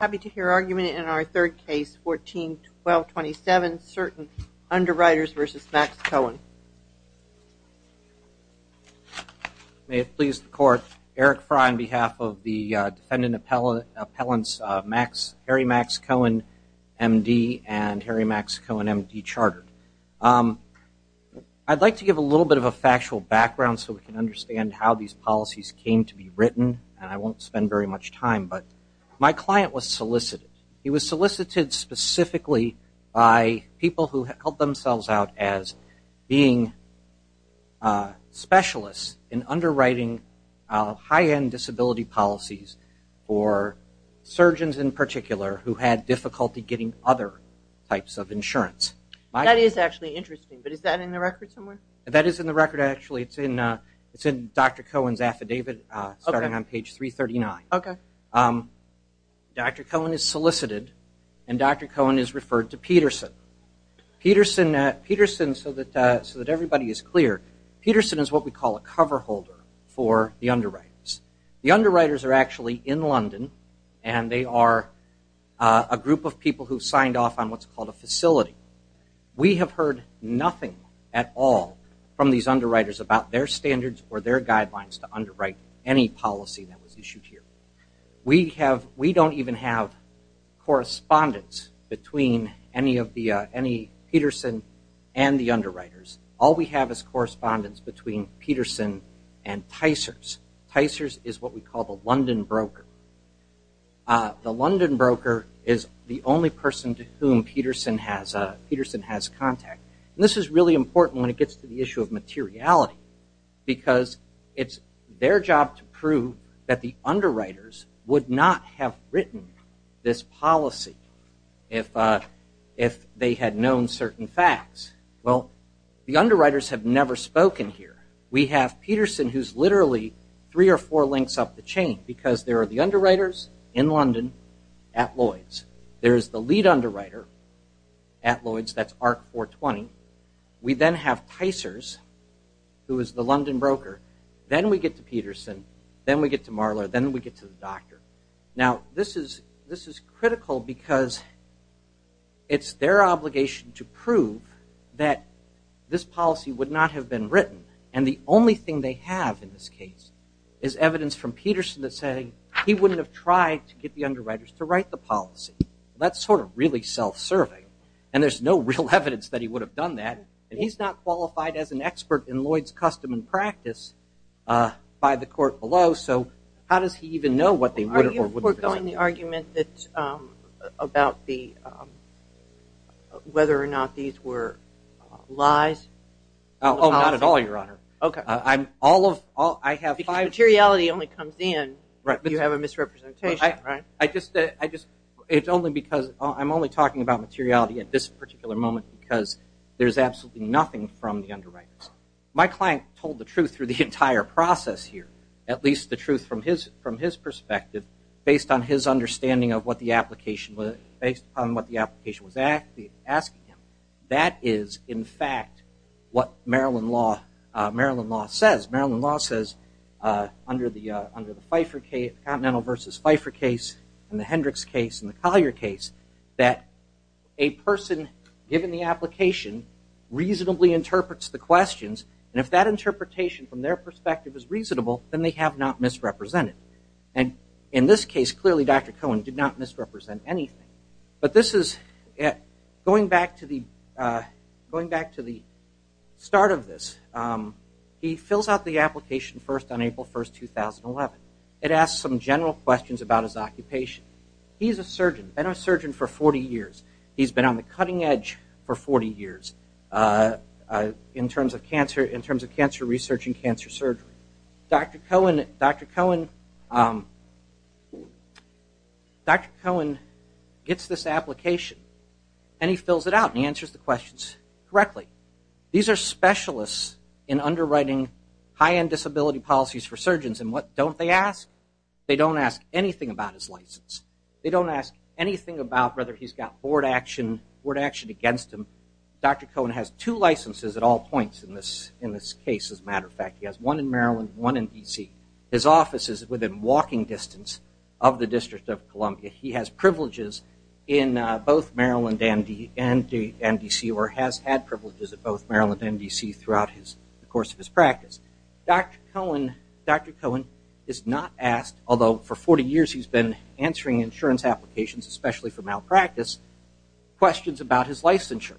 I'd like to give a little bit of a factual background so we can understand how these He was solicited specifically by people who held themselves out as being specialists in underwriting high-end disability policies for surgeons in particular who had difficulty is actually interesting but is that in the record somewhere that is in the record actually it's in it's in dr. Cohen's affidavit starting on page 339 okay dr. Cohen is solicited and dr. Cohen is referred to Peterson Peterson Peterson so that so that everybody is clear Peterson is what we call a cover holder for the underwriters the underwriters are actually in London and they are a group of people who signed off on what's called a facility we have heard nothing at all from these underwriters about their standards or their guidelines to underwrite any policy that was issued here we have we don't even have correspondence between any of the any Peterson and the underwriters all we have is correspondence between Peterson and the London broker is the only person to whom Peterson has a Peterson has contact this is really important when it gets to the issue of materiality because it's their job to prove that the underwriters would not have written this policy if if they had known certain facts well the underwriters have never spoken here we have Peterson who's literally three or four links up the chain because there are the underwriters in London at Lloyds there is the lead underwriter at Lloyds that's ARC 420 we then have Tysers who is the London broker then we get to Peterson then we get to Marler then we get to the doctor now this is this is critical because it's their obligation to prove that this policy would not have been written and the only thing they have in this case is evidence from Peterson to say he wouldn't have tried to get the underwriters to write the policy that's sort of really self-serving and there's no real evidence that he would have done that and he's not qualified as an expert in Lloyds custom and practice by the court below so how does he even know what they were doing the argument that's about the whether or not these were lies oh not you have a misrepresentation right I just I just it's only because I'm only talking about materiality at this particular moment because there's absolutely nothing from the underwriters my client told the truth through the entire process here at least the truth from his from his perspective based on his understanding of what the application was based on what the application was at the asking him that is in fact what Maryland law Maryland law says Maryland law says under the under the Pfeiffer case Continental versus Pfeiffer case and the Hendricks case and the Collier case that a person given the application reasonably interprets the questions and if that interpretation from their perspective is reasonable then they have not misrepresented and in this case clearly dr. Cohen did not misrepresent anything but this is it going back to the going back to the start of this he fills out the application first on April 1st 2011 it asks some general questions about his occupation he's a surgeon and a surgeon for 40 years he's been on the cutting edge for 40 years in terms of cancer in terms of cancer research and cancer surgery dr. Cohen dr. Cohen dr. Cohen gets this application and he fills it out and answers the questions correctly these are specialists in underwriting high-end disability policies for surgeons and what don't they ask they don't ask anything about his license they don't ask anything about whether he's got board action word action against him dr. Cohen has two licenses at all points in this in this case as a matter of fact he has one in Maryland one in DC his office is within walking distance of the District of Columbia he has privileges in both Maryland and DC or has had privileges at both Maryland and DC throughout his course of his practice dr. Cohen dr. Cohen is not asked although for 40 years he's been answering insurance applications especially for malpractice questions about his licensure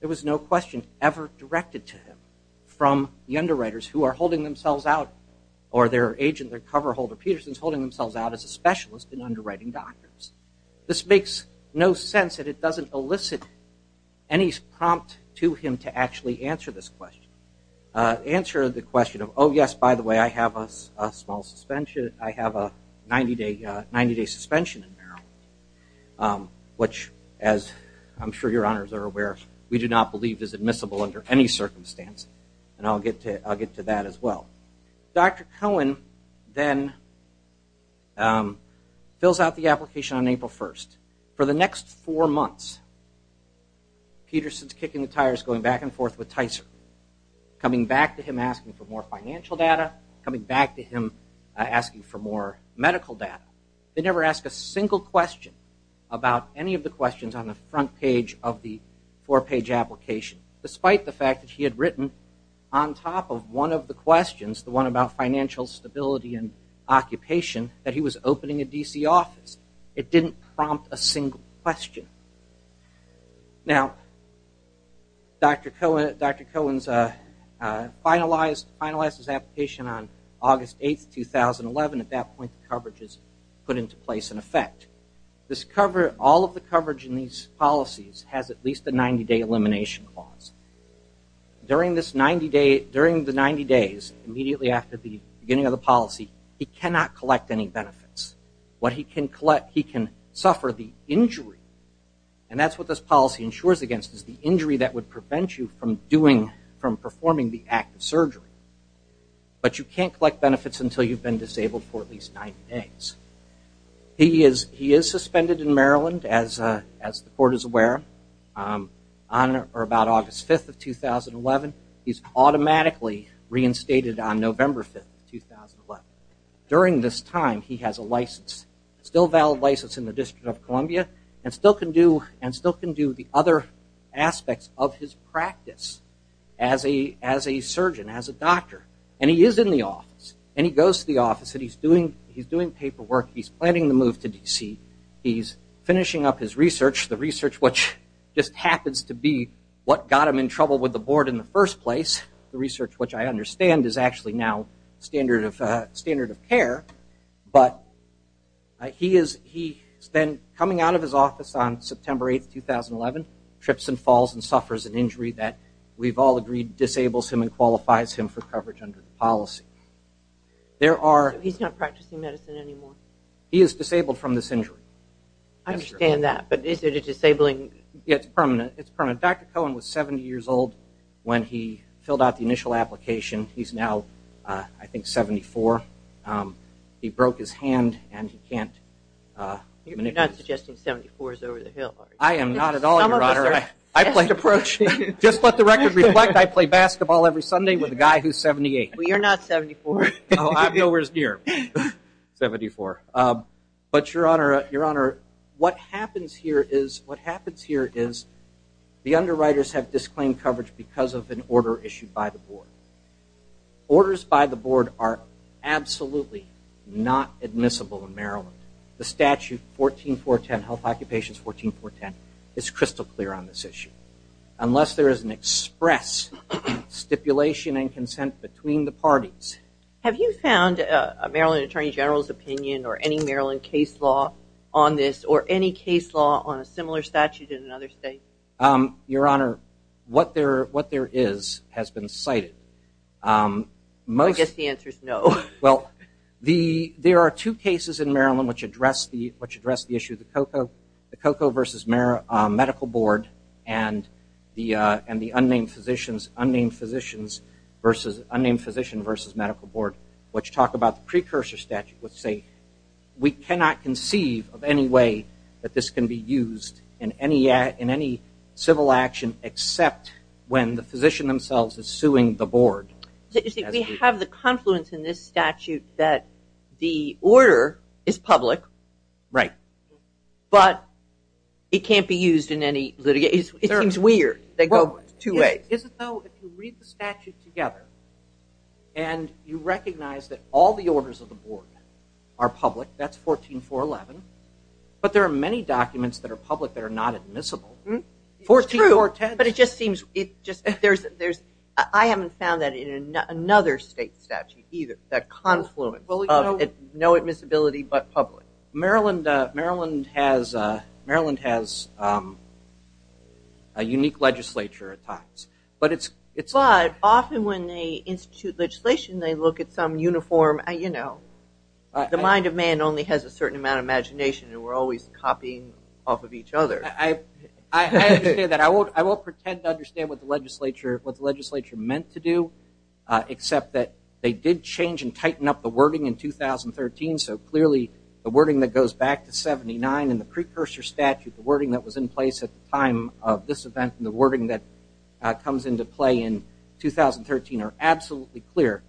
there was no question ever directed to him from the underwriters who are holding themselves out or their agent their cover holder Peterson's holding themselves out as a specialist in underwriting doctors this makes no sense that it doesn't elicit any prompt to him to actually answer this question answer the question of oh yes by the way I have a small suspension I have a 90-day 90-day suspension in where we do not believe is admissible under any circumstance and I'll get to I'll get to that as well dr. Cohen then fills out the application on April 1st for the next four months Peterson's kicking the tires going back and forth with Tyser coming back to him asking for more financial data coming back to him asking for more medical data they never ask a single question about any of the four-page application despite the fact that he had written on top of one of the questions the one about financial stability and occupation that he was opening a DC office it didn't prompt a single question now dr. Cohen's finalized finalized his application on August 8th 2011 at that point the coverage is put into place in effect this cover all of the coverage in these policies has at least a 90-day elimination clause during this 90-day during the 90 days immediately after the beginning of the policy he cannot collect any benefits what he can collect he can suffer the injury and that's what this policy ensures against is the injury that would prevent you from doing from performing the act of surgery but you can't collect benefits until you've been disabled for at least nine days he is he is suspended in Maryland as as the board is aware on or about August 5th of 2011 he's automatically reinstated on November 5th 2011 during this time he has a license still valid license in the District of Columbia and still can do and still can do the other aspects of his practice as a as a surgeon as a doctor and he is in the office and he goes to the office that he's doing he's doing paperwork he's planning to move to which just happens to be what got him in trouble with the board in the first place the research which I understand is actually now standard of standard of care but he is he spent coming out of his office on September 8th 2011 trips and falls and suffers an injury that we've all agreed disables him and qualifies him for coverage under the policy there are he's not practicing medicine anymore he is disabled from this injury I understand that but is it disabling it's permanent it's permanent Dr. Cohen was 70 years old when he filled out the initial application he's now I think 74 he broke his hand and he can't I am NOT at all I played approach just let the record reflect I play basketball every Sunday with a guy who's 78 we are not 74 I'm nowhere near 74 but your honor your honor what happens here is what happens here is the underwriters have disclaimed coverage because of an order issued by the board orders by the board are absolutely not admissible in Maryland the statute 14410 health occupations 14410 is crystal clear on this issue unless there is an express stipulation and consent between the parties have you found a Maryland Attorney General's opinion or any Maryland case law on this or any case law on a similar statute in another state your honor what there what there is has been cited most the answer is no well the there are two cases in Maryland which address the which address the issue of the cocoa the cocoa versus Mara Medical Board and the and the unnamed physicians unnamed physicians versus unnamed physician versus Medical Board which talked about the precursor statute would say we cannot conceive of any way that this can be used in any in any civil action except when the physician themselves is suing the board we have the confluence in this statute that the order is public right but it can't be used in any litigate it's weird they go to a is it though if you read the statute together and you recognize that all the orders of the board are public that's 14 for 11 but there are many documents that are public that are not admissible 14 or 10 but it just seems it just there's there's I haven't found that in another state statute either that confluence well you know it no admissibility but public Maryland Maryland has Maryland has a unique legislature at times but it's it's live often when they institute legislation they look at some uniform and you know the mind of man only has a certain amount of imagination and we're always copying off of each other I I that I won't I won't pretend to understand what the legislature what the legislature meant to do except that they did change and tighten up the wording in 2013 so clearly the wording that goes back to 79 and the precursor statute the wording that was in place at the time of this event in the wording that comes into play in 2013 are absolutely clear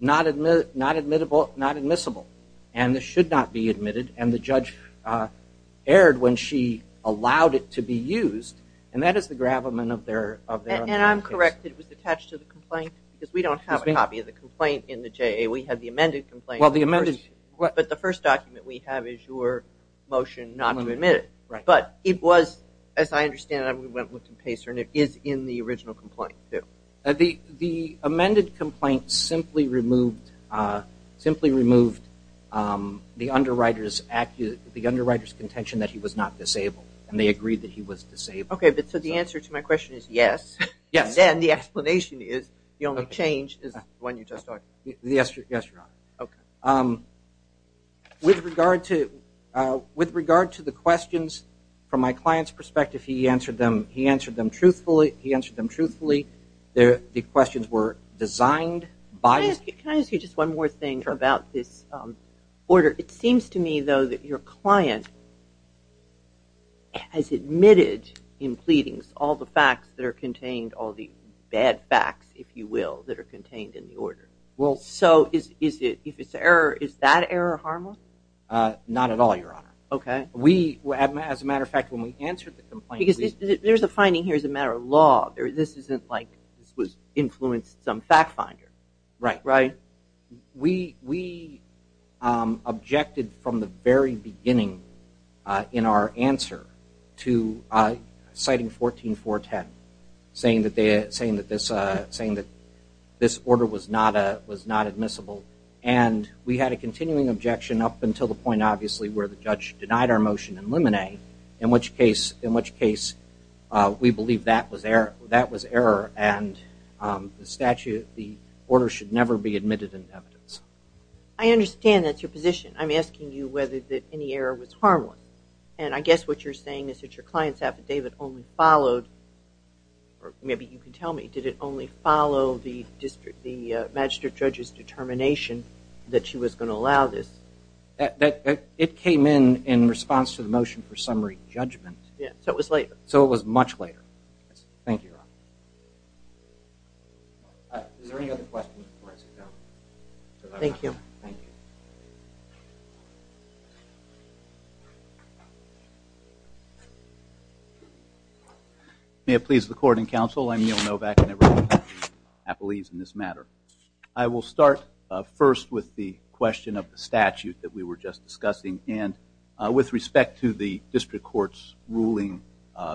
not admit not admittable not admissible and this should not be admitted and the judge erred when she allowed it to be used and that is the gravamen of their and I'm correct it was attached to the complaint because we don't have a copy of the complaint in the J we have the amended complaint well the amended what but the first document we have is your motion not to admit it right but it was as I understand I went with the pacer and it is in the original complaint yeah the the amended complaint simply removed simply removed the underwriters active the underwriters contention that he was not disabled and they agreed that he was disabled okay but so the answer to my question is yes yes and the explanation is the only change is when you just talk yes yes okay with regard to with regard to the questions from my clients perspective he answered them he answered them truthfully he answered them truthfully there the questions were designed by just one more thing about this order it seems to me though that your client has admitted in pleadings all the facts that are contained all the bad facts if you will that are contained in the order well so is is it if it's error is that error harmless not at all your honor okay we as a matter of fact when we answered the complaint because there's a finding here is a matter of law there this isn't like this was influenced some fact finder right right we we objected from the very beginning in our answer to citing 14 410 saying that they're saying that this saying that this order was not a was not admissible and we had a continuing objection up until the point obviously where the judge denied our motion and lemonade in which case in which case we believe that was there that was error and the statute the order should never be admitted in evidence I understand that's your position I'm asking you whether that any error was harmless and I guess what you're saying is that your clients affidavit only followed or maybe you can tell me did it only follow the district the magistrate judge's determination that she was going to allow this that it came in in response to the motion for summary judgment yeah so it was later so it was much later thank you thank you thank you may it please the court and counsel I'm Neil Novak I believe in this matter I will start first with the question of the statute that we were just discussing and with respect to the district courts ruling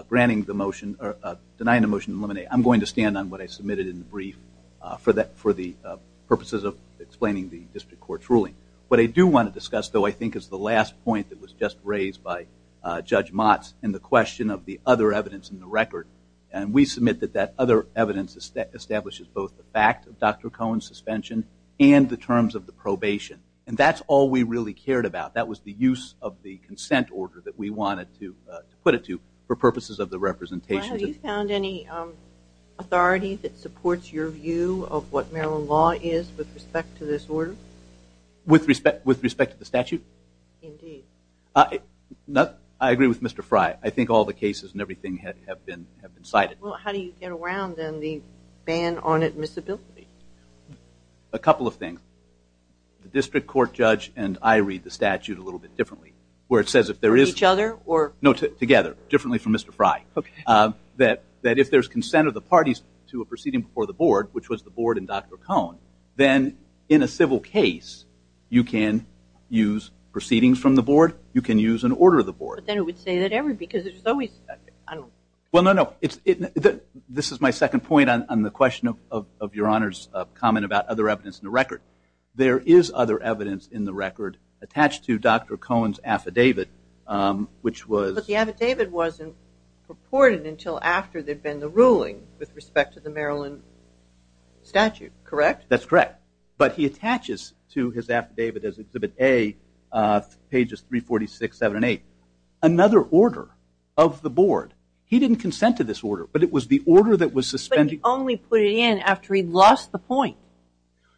granting the motion or denying the motion eliminate I'm going to stand on what I submitted in the brief for that for the purposes of explaining the district court's ruling what I do want to discuss though I think is the last point that was just raised by judge Mott's and the question of the other evidence in the record and we submit that that other evidence establishes both the fact of dr. Cohen suspension and the terms of the probation and that's all we really cared about that was the use of the consent order that we wanted to put it to for purposes of the found any authority that supports your view of what Maryland law is with respect to this order with respect with respect to the statute nothing I agree with mr. Frye I think all the cases and everything had have been have been cited well how do you get around then the ban on admissibility a couple of things the district court judge and I read the statute a little bit differently where it says if there is each other or no together differently from mr. Frye but that that if there's consent of the parties to a proceeding before the board which was the board and dr. Cohn then in a civil case you can use proceedings from the board you can use an order of the board then it would say that every because it's always well no no it's it that this is my second point on the question of your honors comment about other evidence in the record there is other evidence in the record attached to dr. Cohen's affidavit which was the affidavit wasn't purported until after they've been the ruling with respect to the Maryland statute correct that's correct but he attaches to his affidavit as exhibit a pages 346 7 8 another order of the board he didn't consent to this order but it was the order that was suspended only put it in after he lost the point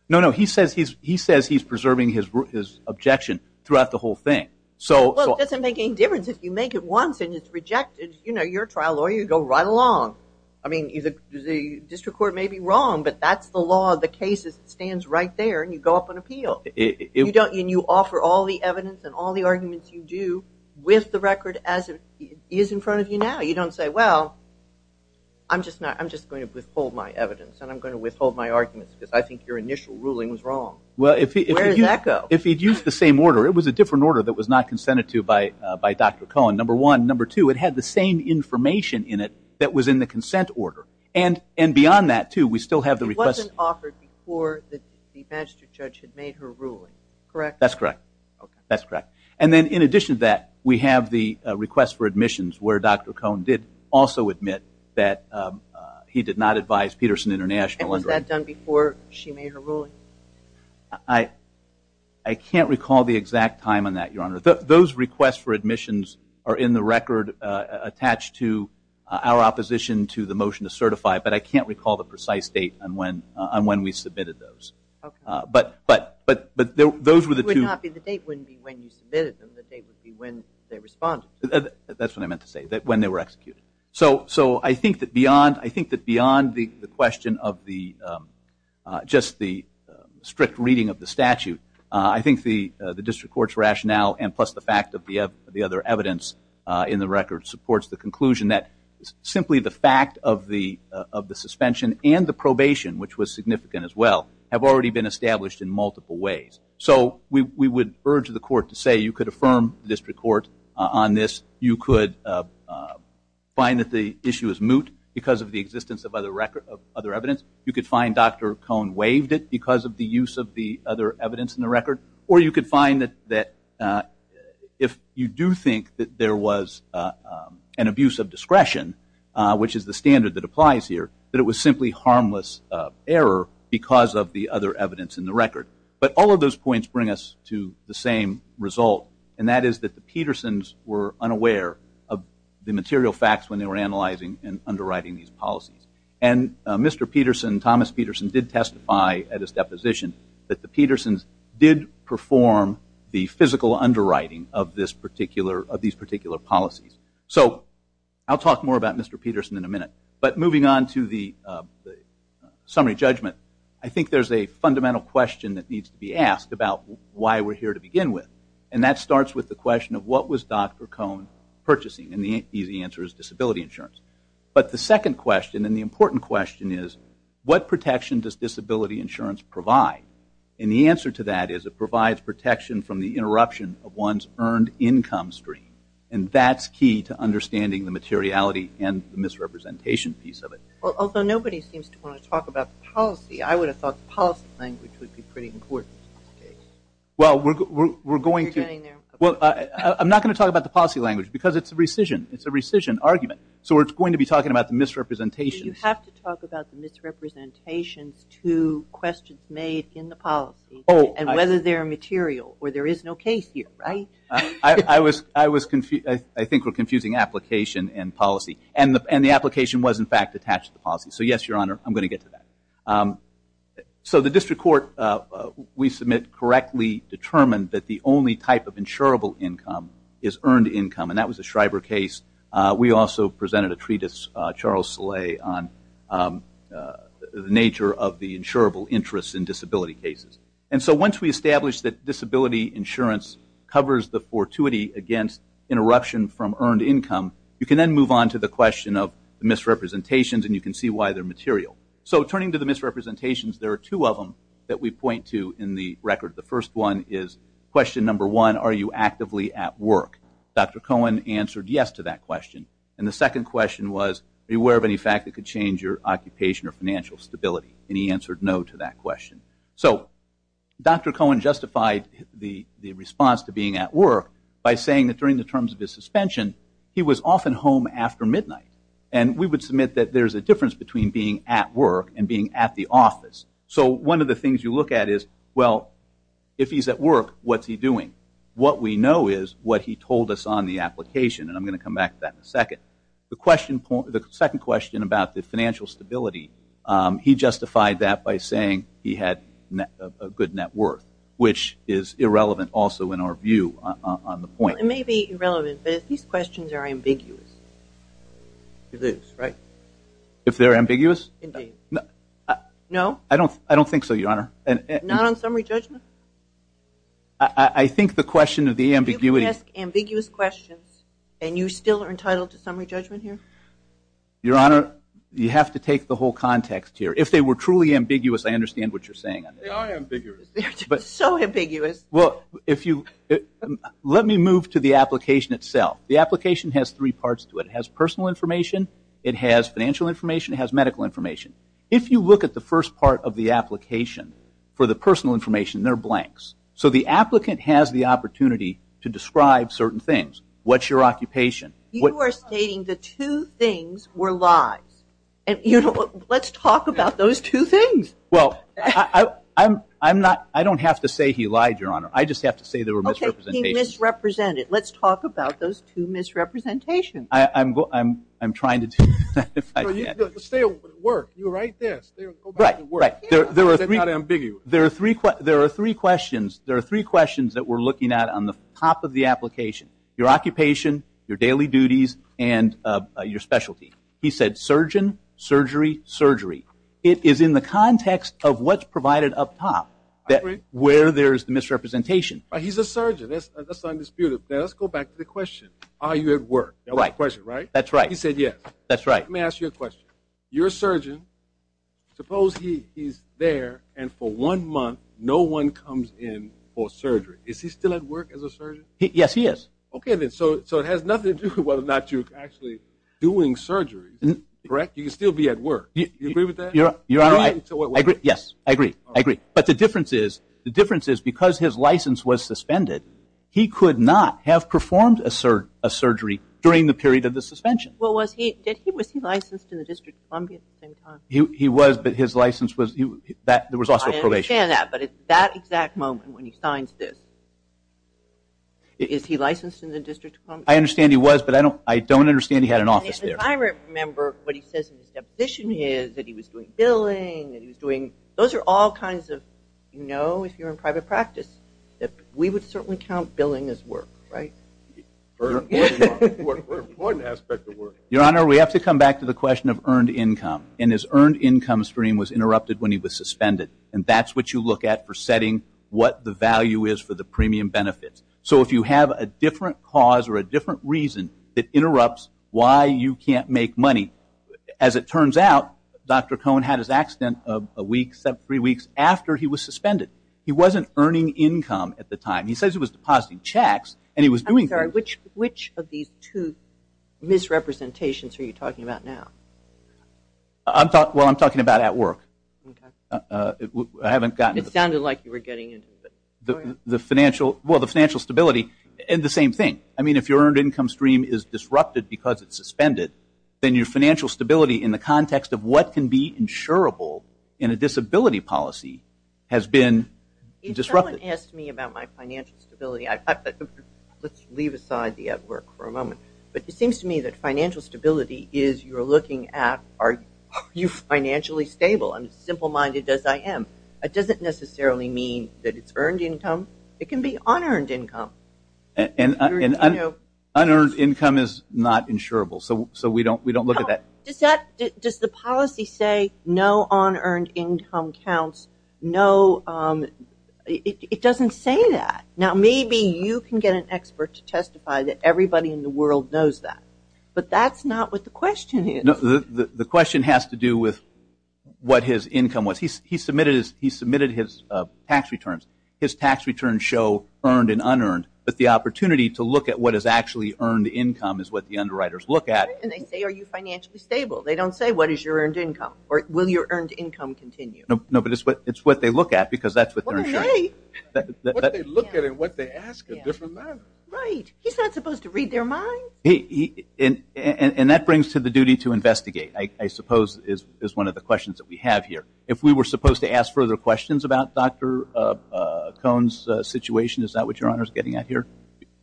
no no he says he's he says he's preserving his objection throughout the whole thing so it doesn't make any difference if you make it once and it's rejected you know your trial or you go right along I mean either the district court may be wrong but that's the law of the cases it stands right there and you go up on appeal if you don't you offer all the evidence and all the arguments you do with the record as it is in front of you now you don't say well I'm just not I'm just going to withhold my evidence and I'm going to withhold my arguments because I think your initial ruling was the same order it was a different order that was not consented to by by dr. Cohen number one number two it had the same information in it that was in the consent order and and beyond that too we still have the request offered for the magistrate judge had made her ruling correct that's correct that's correct and then in addition to that we have the request for admissions where dr. Cohn did also admit that he did not advise Peterson International and was that done she made her ruling I I can't recall the exact time on that your honor those requests for admissions are in the record attached to our opposition to the motion to certify but I can't recall the precise date and when I'm when we submitted those but but but but those were the two that's what I meant to say that when they were executed so so I think that beyond I think that beyond the question of the just the strict reading of the statute I think the the district courts rationale and plus the fact of the other evidence in the record supports the conclusion that simply the fact of the of the suspension and the probation which was significant as well have already been established in multiple ways so we would urge the court to say you could affirm the district court on this you could find that the issue is moot because of the existence of other record of other evidence you could find dr. Cohn waived it because of the use of the other evidence in the record or you could find that that if you do think that there was an abuse of discretion which is the standard that applies here that it was simply harmless error because of the other evidence in the record but all of those points bring us to the same result and that is that the Petersons were unaware of the material facts when they were analyzing and underwriting these policies and mr. Peterson Thomas Peterson did testify at his deposition that the Petersons did perform the physical underwriting of this particular of these particular policies so I'll talk more about mr. Peterson in a minute but moving on to the summary judgment I think there's a fundamental question that needs to be asked about why we're here to begin with and that starts with the question of what was dr. Cohn purchasing and the easy answer is disability insurance but the second question and the important question is what protection does disability insurance provide and the answer to that is it provides protection from the interruption of one's earned income stream and that's key to understanding the materiality and the misrepresentation piece of it well although nobody seems to want to talk about policy I would have thought the policy language would be pretty important well we're going to well I'm not going to talk about the policy language because it's a rescission it's a rescission argument so we're going to be talking about the misrepresentation you have to talk about the misrepresentations to questions made in the policy oh and whether they're material or there is no case here right I was I was confused I think we're confusing application and policy and the and the application was in fact attached to the policy so yes your honor I'm going to get to that so the district court we submit correctly determined that the only type of insurable income is earned income and that was a Schreiber case we also presented a treatise Charles Soleil on the nature of the insurable interests in disability cases and so once we establish that disability insurance covers the fortuity against interruption from earned income you can then move on to the question of misrepresentations and you can see why they're material so turning to the misrepresentations there are two of them that we point to in the record the first one is question number one are you actively at work dr. Cohen answered yes to that question and the second question was beware of any fact that could change your occupation or financial stability and he answered no to that question so dr. Cohen justified the response to being at work by saying that during the terms of his suspension he was often home after midnight and we would submit that there's a difference between being at work and being at the if he's at work what's he doing what we know is what he told us on the application and I'm going to come back to that in a second the question point the second question about the financial stability he justified that by saying he had a good net worth which is irrelevant also in our view on the point it may be irrelevant but if these questions are ambiguous this right if they're so your honor and not on summary judgment I think the question of the ambiguity ambiguous questions and you still are entitled to summary judgment here your honor you have to take the whole context here if they were truly ambiguous I understand what you're saying but so ambiguous well if you let me move to the application itself the application has three parts to it has personal information it has financial information has medical information if you look at the first part of the application for the personal information they're blanks so the applicant has the opportunity to describe certain things what's your occupation what you are stating the two things were lies and you know let's talk about those two things well I'm I'm not I don't have to say he lied your honor I just have to say they were misrepresented let's talk about those two misrepresentation I'm I'm I'm trying to stay at work you're right there right right there there are three big you there are three there are three questions there are three questions that we're looking at on the top of the application your occupation your daily duties and your specialty he said surgeon surgery surgery it is in the context of what's provided up top that where there's the misrepresentation he's a surgeon let's go back to the question are you at work all right question right that's right he said yes that's right let me ask you a question your surgeon suppose he is there and for one month no one comes in for surgery is he still at work as a surgeon yes he is okay then so so it has nothing to do with whether or not you actually doing surgery and correct you can still be at work you agree with that yeah you're right I agree yes I agree I agree but the difference is the difference is his license was suspended he could not have performed a sir a surgery during the period of the suspension what was he did he was he licensed in the District Columbia he was but his license was you that there was also probation that but it's that exact moment when he signs this is he licensed in the district I understand he was but I don't I don't understand he had an office there I remember what he says in his deposition is that he was doing billing and he was all kinds of you know if you're in private practice that we would certainly count billing as work right your honor we have to come back to the question of earned income and his earned income stream was interrupted when he was suspended and that's what you look at for setting what the value is for the premium benefits so if you have a different cause or a different reason that interrupts why you can't make money as it turns out dr. Cohn had his three weeks after he was suspended he wasn't earning income at the time he says it was depositing checks and he was doing sorry which which of these two misrepresentations are you talking about now I'm talking about I'm talking about at work I haven't gotten it sounded like you were getting in the financial well the financial stability and the same thing I mean if you earned income stream is disrupted because it's suspended then your financial stability in the context of what can be insurable in a disability policy has been disrupted asked me about my financial stability let's leave aside the at work for a moment but it seems to me that financial stability is you're looking at are you financially stable I'm simple-minded as I am it doesn't necessarily mean that it's earned income it can be unearned income and unearned income is not insurable so so we don't we don't look at that does that does the policy say no on earned income counts no it doesn't say that now maybe you can get an expert to testify that everybody in the world knows that but that's not what the question is the question has to do with what his income was he submitted his tax returns his tax returns show earned and unearned but the opportunity to look at what is actually earned income is what the underwriters look at and they say are you financially stable they don't say what is your earned income or will your earned income continue no but it's what it's what they look at because that's what they look at and what they ask a different man right he's not supposed to read their mind he and and that brings to the duty to investigate I suppose is is one of the questions that we have here if we were supposed to ask further questions about dr. cones situation is that what your honor is getting out here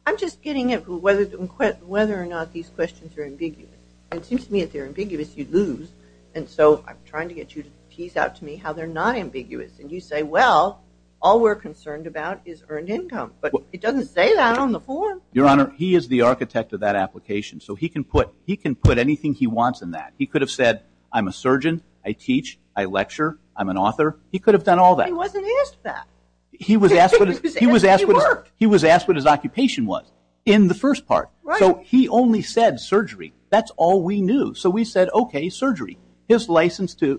I'm just getting it whether whether or not these questions are ambiguous it seems to me they're ambiguous you lose and so I'm trying to get you to tease out to me how they're not ambiguous and you say well all we're concerned about is earned income but it doesn't say that on the form your honor he is the architect of that application so he can put he can put anything he wants in that he could have said I'm a surgeon I teach I lecture I'm an author he could have done all that he was asked he was asked he was asked what his occupation was in the we said okay surgery his license to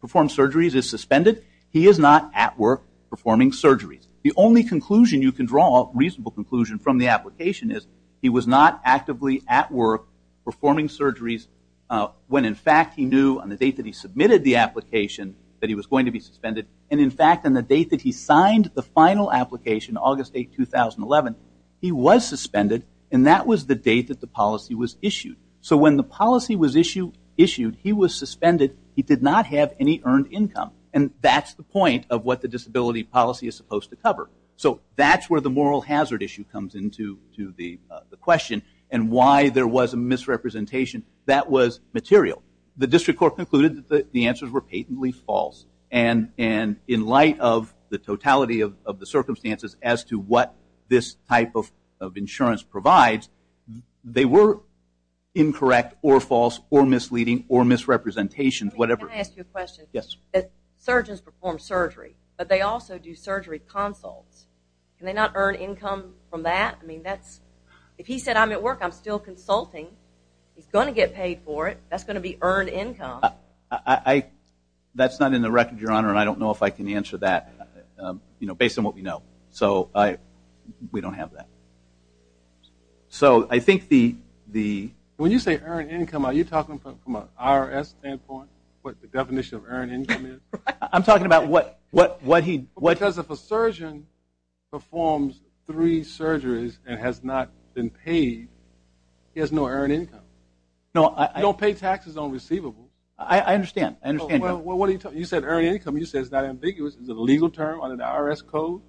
perform surgeries is suspended he is not at work performing surgeries the only conclusion you can draw a reasonable conclusion from the application is he was not actively at work performing surgeries when in fact he knew on the date that he submitted the application that he was going to be suspended and in fact on the date that he signed the final application August 8 2011 he was suspended and that was the date that the policy was issue issued he was suspended he did not have any earned income and that's the point of what the disability policy is supposed to cover so that's where the moral hazard issue comes into to the question and why there was a misrepresentation that was material the district court concluded that the answers were patently false and and in light of the totality of the circumstances as to what this type of insurance provides they were incorrect or false or misleading or misrepresentation whatever yes surgeons perform surgery but they also do surgery consults and they not earn income from that I mean that's if he said I'm at work I'm still consulting he's going to get paid for it that's going to be earned income I that's not in the record your honor and I don't know if I can answer that you know based on what we income are you talking from an IRS standpoint what the definition of earn income is I'm talking about what what what he what does if a surgeon performs three surgeries and has not been paid he has no earned income no I don't pay taxes on receivable I understand I understand well what are you talking you said earning income you says that ambiguous is a legal term on an IRS code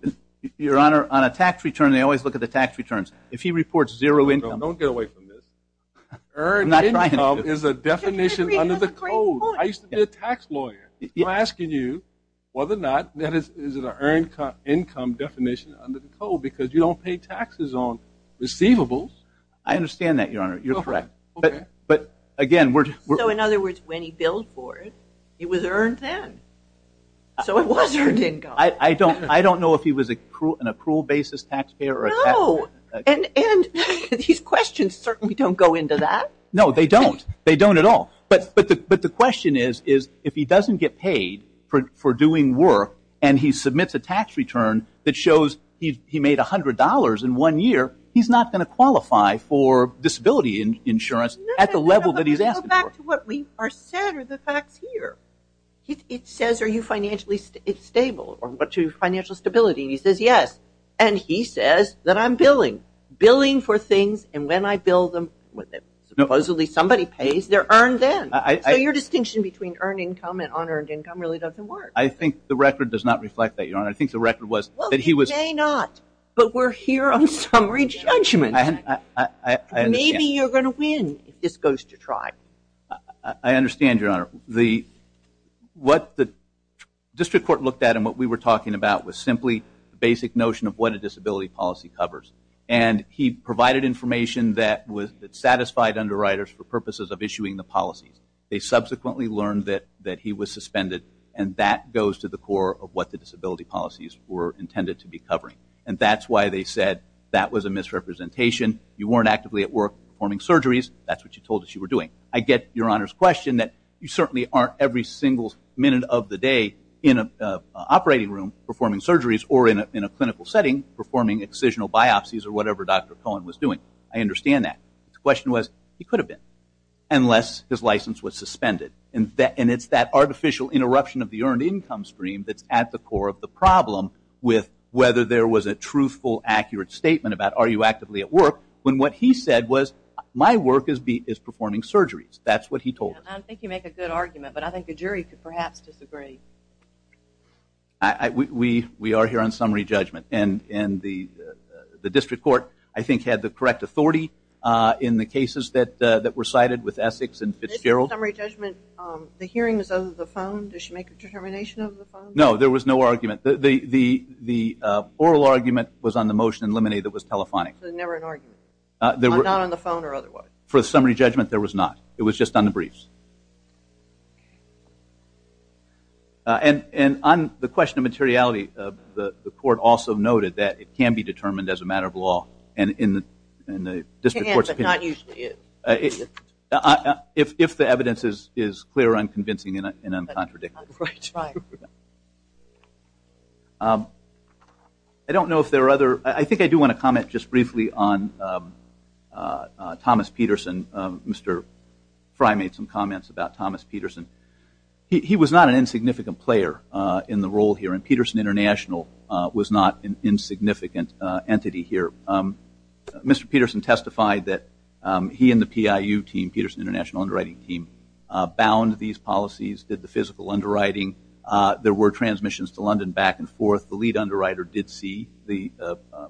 your honor on a tax return they always look at the tax returns if he reports zero income don't get away from this or not right now is a definition under the code I used to be a tax lawyer you're asking you whether or not that is is it an earned income definition under the code because you don't pay taxes on receivables I understand that your honor you're correct but but again we're so in other words when he billed for it it was earned then so it wasn't I don't I don't know if he was a cruel and a cruel basis taxpayer and and these questions certainly don't go into that no they don't they don't at all but but the but the question is is if he doesn't get paid for doing work and he submits a tax return that shows he made a hundred dollars in one year he's not going to qualify for disability insurance at the level that he's asked back to what we are sadder the facts here it says are you financially stable or what to financial stability he says yes and he says that I'm billing billing for things and when I build them with it supposedly somebody pays their earned then I your distinction between earned income and unearned income really doesn't work I think the record does not reflect that your honor I think the record was that he was a not but we're here on summary judgment and maybe you're gonna win if this goes to try I understand your honor the what the district court looked at and what we were talking about was simply the basic notion of what a disability policy covers and he provided information that was that satisfied underwriters for purposes of issuing the policies they subsequently learned that that he was suspended and that goes to the core of what the disability policies were intended to be covering and that's why they said that was a misrepresentation you weren't actively at work performing surgeries that's what you told us you were doing I get your honors question that you certainly aren't every single minute of the day in a operating room performing surgeries or in a clinical setting performing excisional biopsies or whatever dr. Cohen was doing I understand that question was he could have been unless his license was suspended and that and it's that artificial interruption of the earned income stream that's at the core of the problem with whether there was a truthful accurate statement about are you actively at work when what he said was my work is beat is performing surgeries that's what he told I think you make a good argument but I think the jury could perhaps disagree I we we are here on summary judgment and and the the district court I think had the correct authority in the cases that that were cited with Essex and Fitzgerald summary judgment the hearings of the phone does she make a determination of the phone no there was no argument the the the oral argument was on the motion and lemonade that was telephonic there were not on the phone or otherwise for summary judgment there was not it was just on the briefs and and on the question of materiality of the court also noted that it can be determined as a matter of law and in the if the evidence is is clear I'm convincing in it and I'm contradictory I don't know if there are other I think I do want to Mr. Frey made some comments about Thomas Peterson he was not an insignificant player in the role here and Peterson International was not an insignificant entity here Mr. Peterson testified that he and the PIU team Peterson International underwriting team bound these policies did the physical underwriting there were transmissions to London back and forth the lead underwriter did see the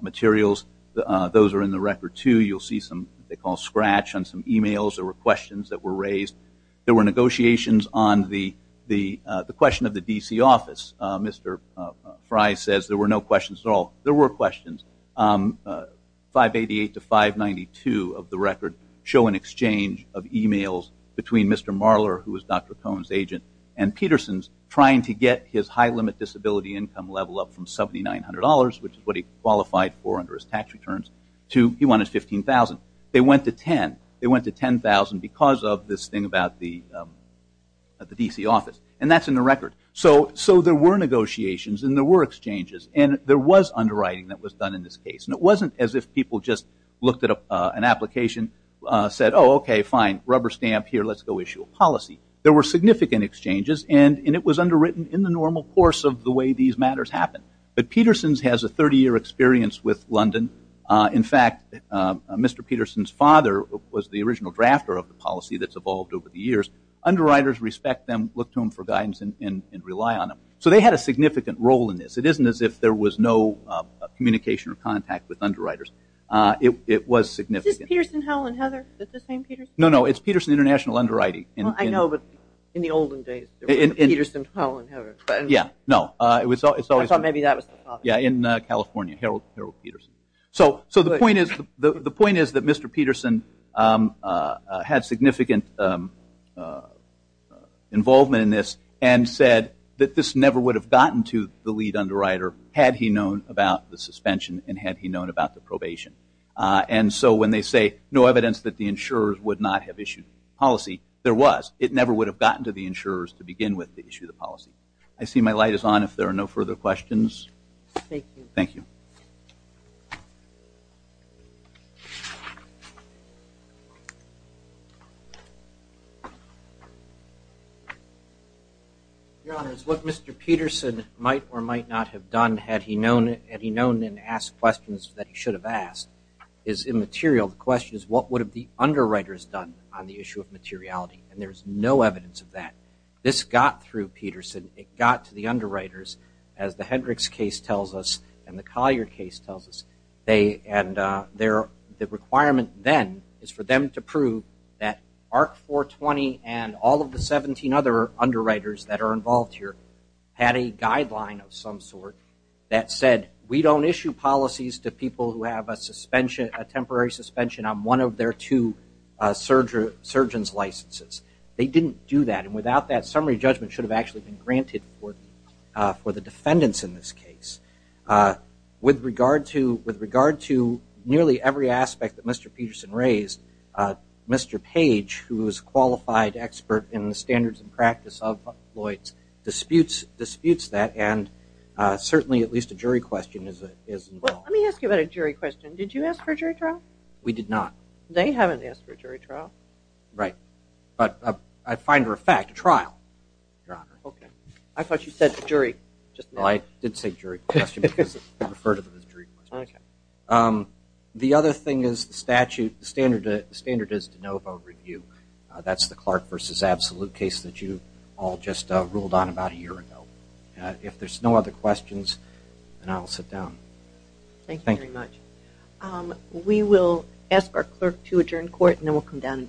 materials those are in the record too you'll see some they call scratch on some emails or questions that were raised there were negotiations on the the the question of the DC office Mr. Frey says there were no questions at all there were questions 588 to 592 of the record show an exchange of emails between Mr. Marler who was dr. Cohn's agent and Peterson's trying to get his high limit disability income level up from $7,900 which is qualified for under his tax returns to he wanted 15,000 they went to 10 they went to 10,000 because of this thing about the at the DC office and that's in the record so so there were negotiations and there were exchanges and there was underwriting that was done in this case and it wasn't as if people just looked at an application said oh okay fine rubber stamp here let's go issue a policy there were significant exchanges and it was underwritten in the normal course of the way these matters happen but Peterson's has a 30-year experience with London in fact mr. Peterson's father was the original drafter of the policy that's evolved over the years underwriters respect them look to him for guidance and rely on him so they had a significant role in this it isn't as if there was no communication or contact with underwriters it was significant no no it's Peterson International underwriting and I know but in the olden yeah no it was always thought maybe that was yeah in California Harold Peterson so so the point is the the point is that mr. Peterson had significant involvement in this and said that this never would have gotten to the lead underwriter had he known about the suspension and had he known about the probation and so when they say no evidence that the insurers would not have issued policy there was it never would have gotten to the insurers to I see my light is on if there are no further questions thank you your honor is what mr. Peterson might or might not have done had he known had he known and asked questions that he should have asked is immaterial the question is what would have the underwriters done on the issue of materiality and there's no evidence of that this got through Peterson it got to the underwriters as the Hendricks case tells us and the Collier case tells us they and there the requirement then is for them to prove that arc 420 and all of the 17 other underwriters that are involved here had a guideline of some sort that said we don't issue policies to people who have a suspension a temporary suspension on one of their two surgery surgeons licenses they didn't do that and without that summary judgment should have actually been granted for the defendants in this case with regard to with regard to nearly every aspect that mr. Peterson raised mr. page who was qualified expert in the standards and practice of Lloyd's disputes disputes that and certainly at least a jury question is it is let me they haven't asked for a jury trial right but I find her a fact trial okay I thought you said jury just like did say jury question because the other thing is the statute standard standard is to know about review that's the Clark versus absolute case that you all just ruled on about a year ago if there's no other questions and I'll sit down thank you very much we will ask our clerk to adjourn court and then we'll come down and greet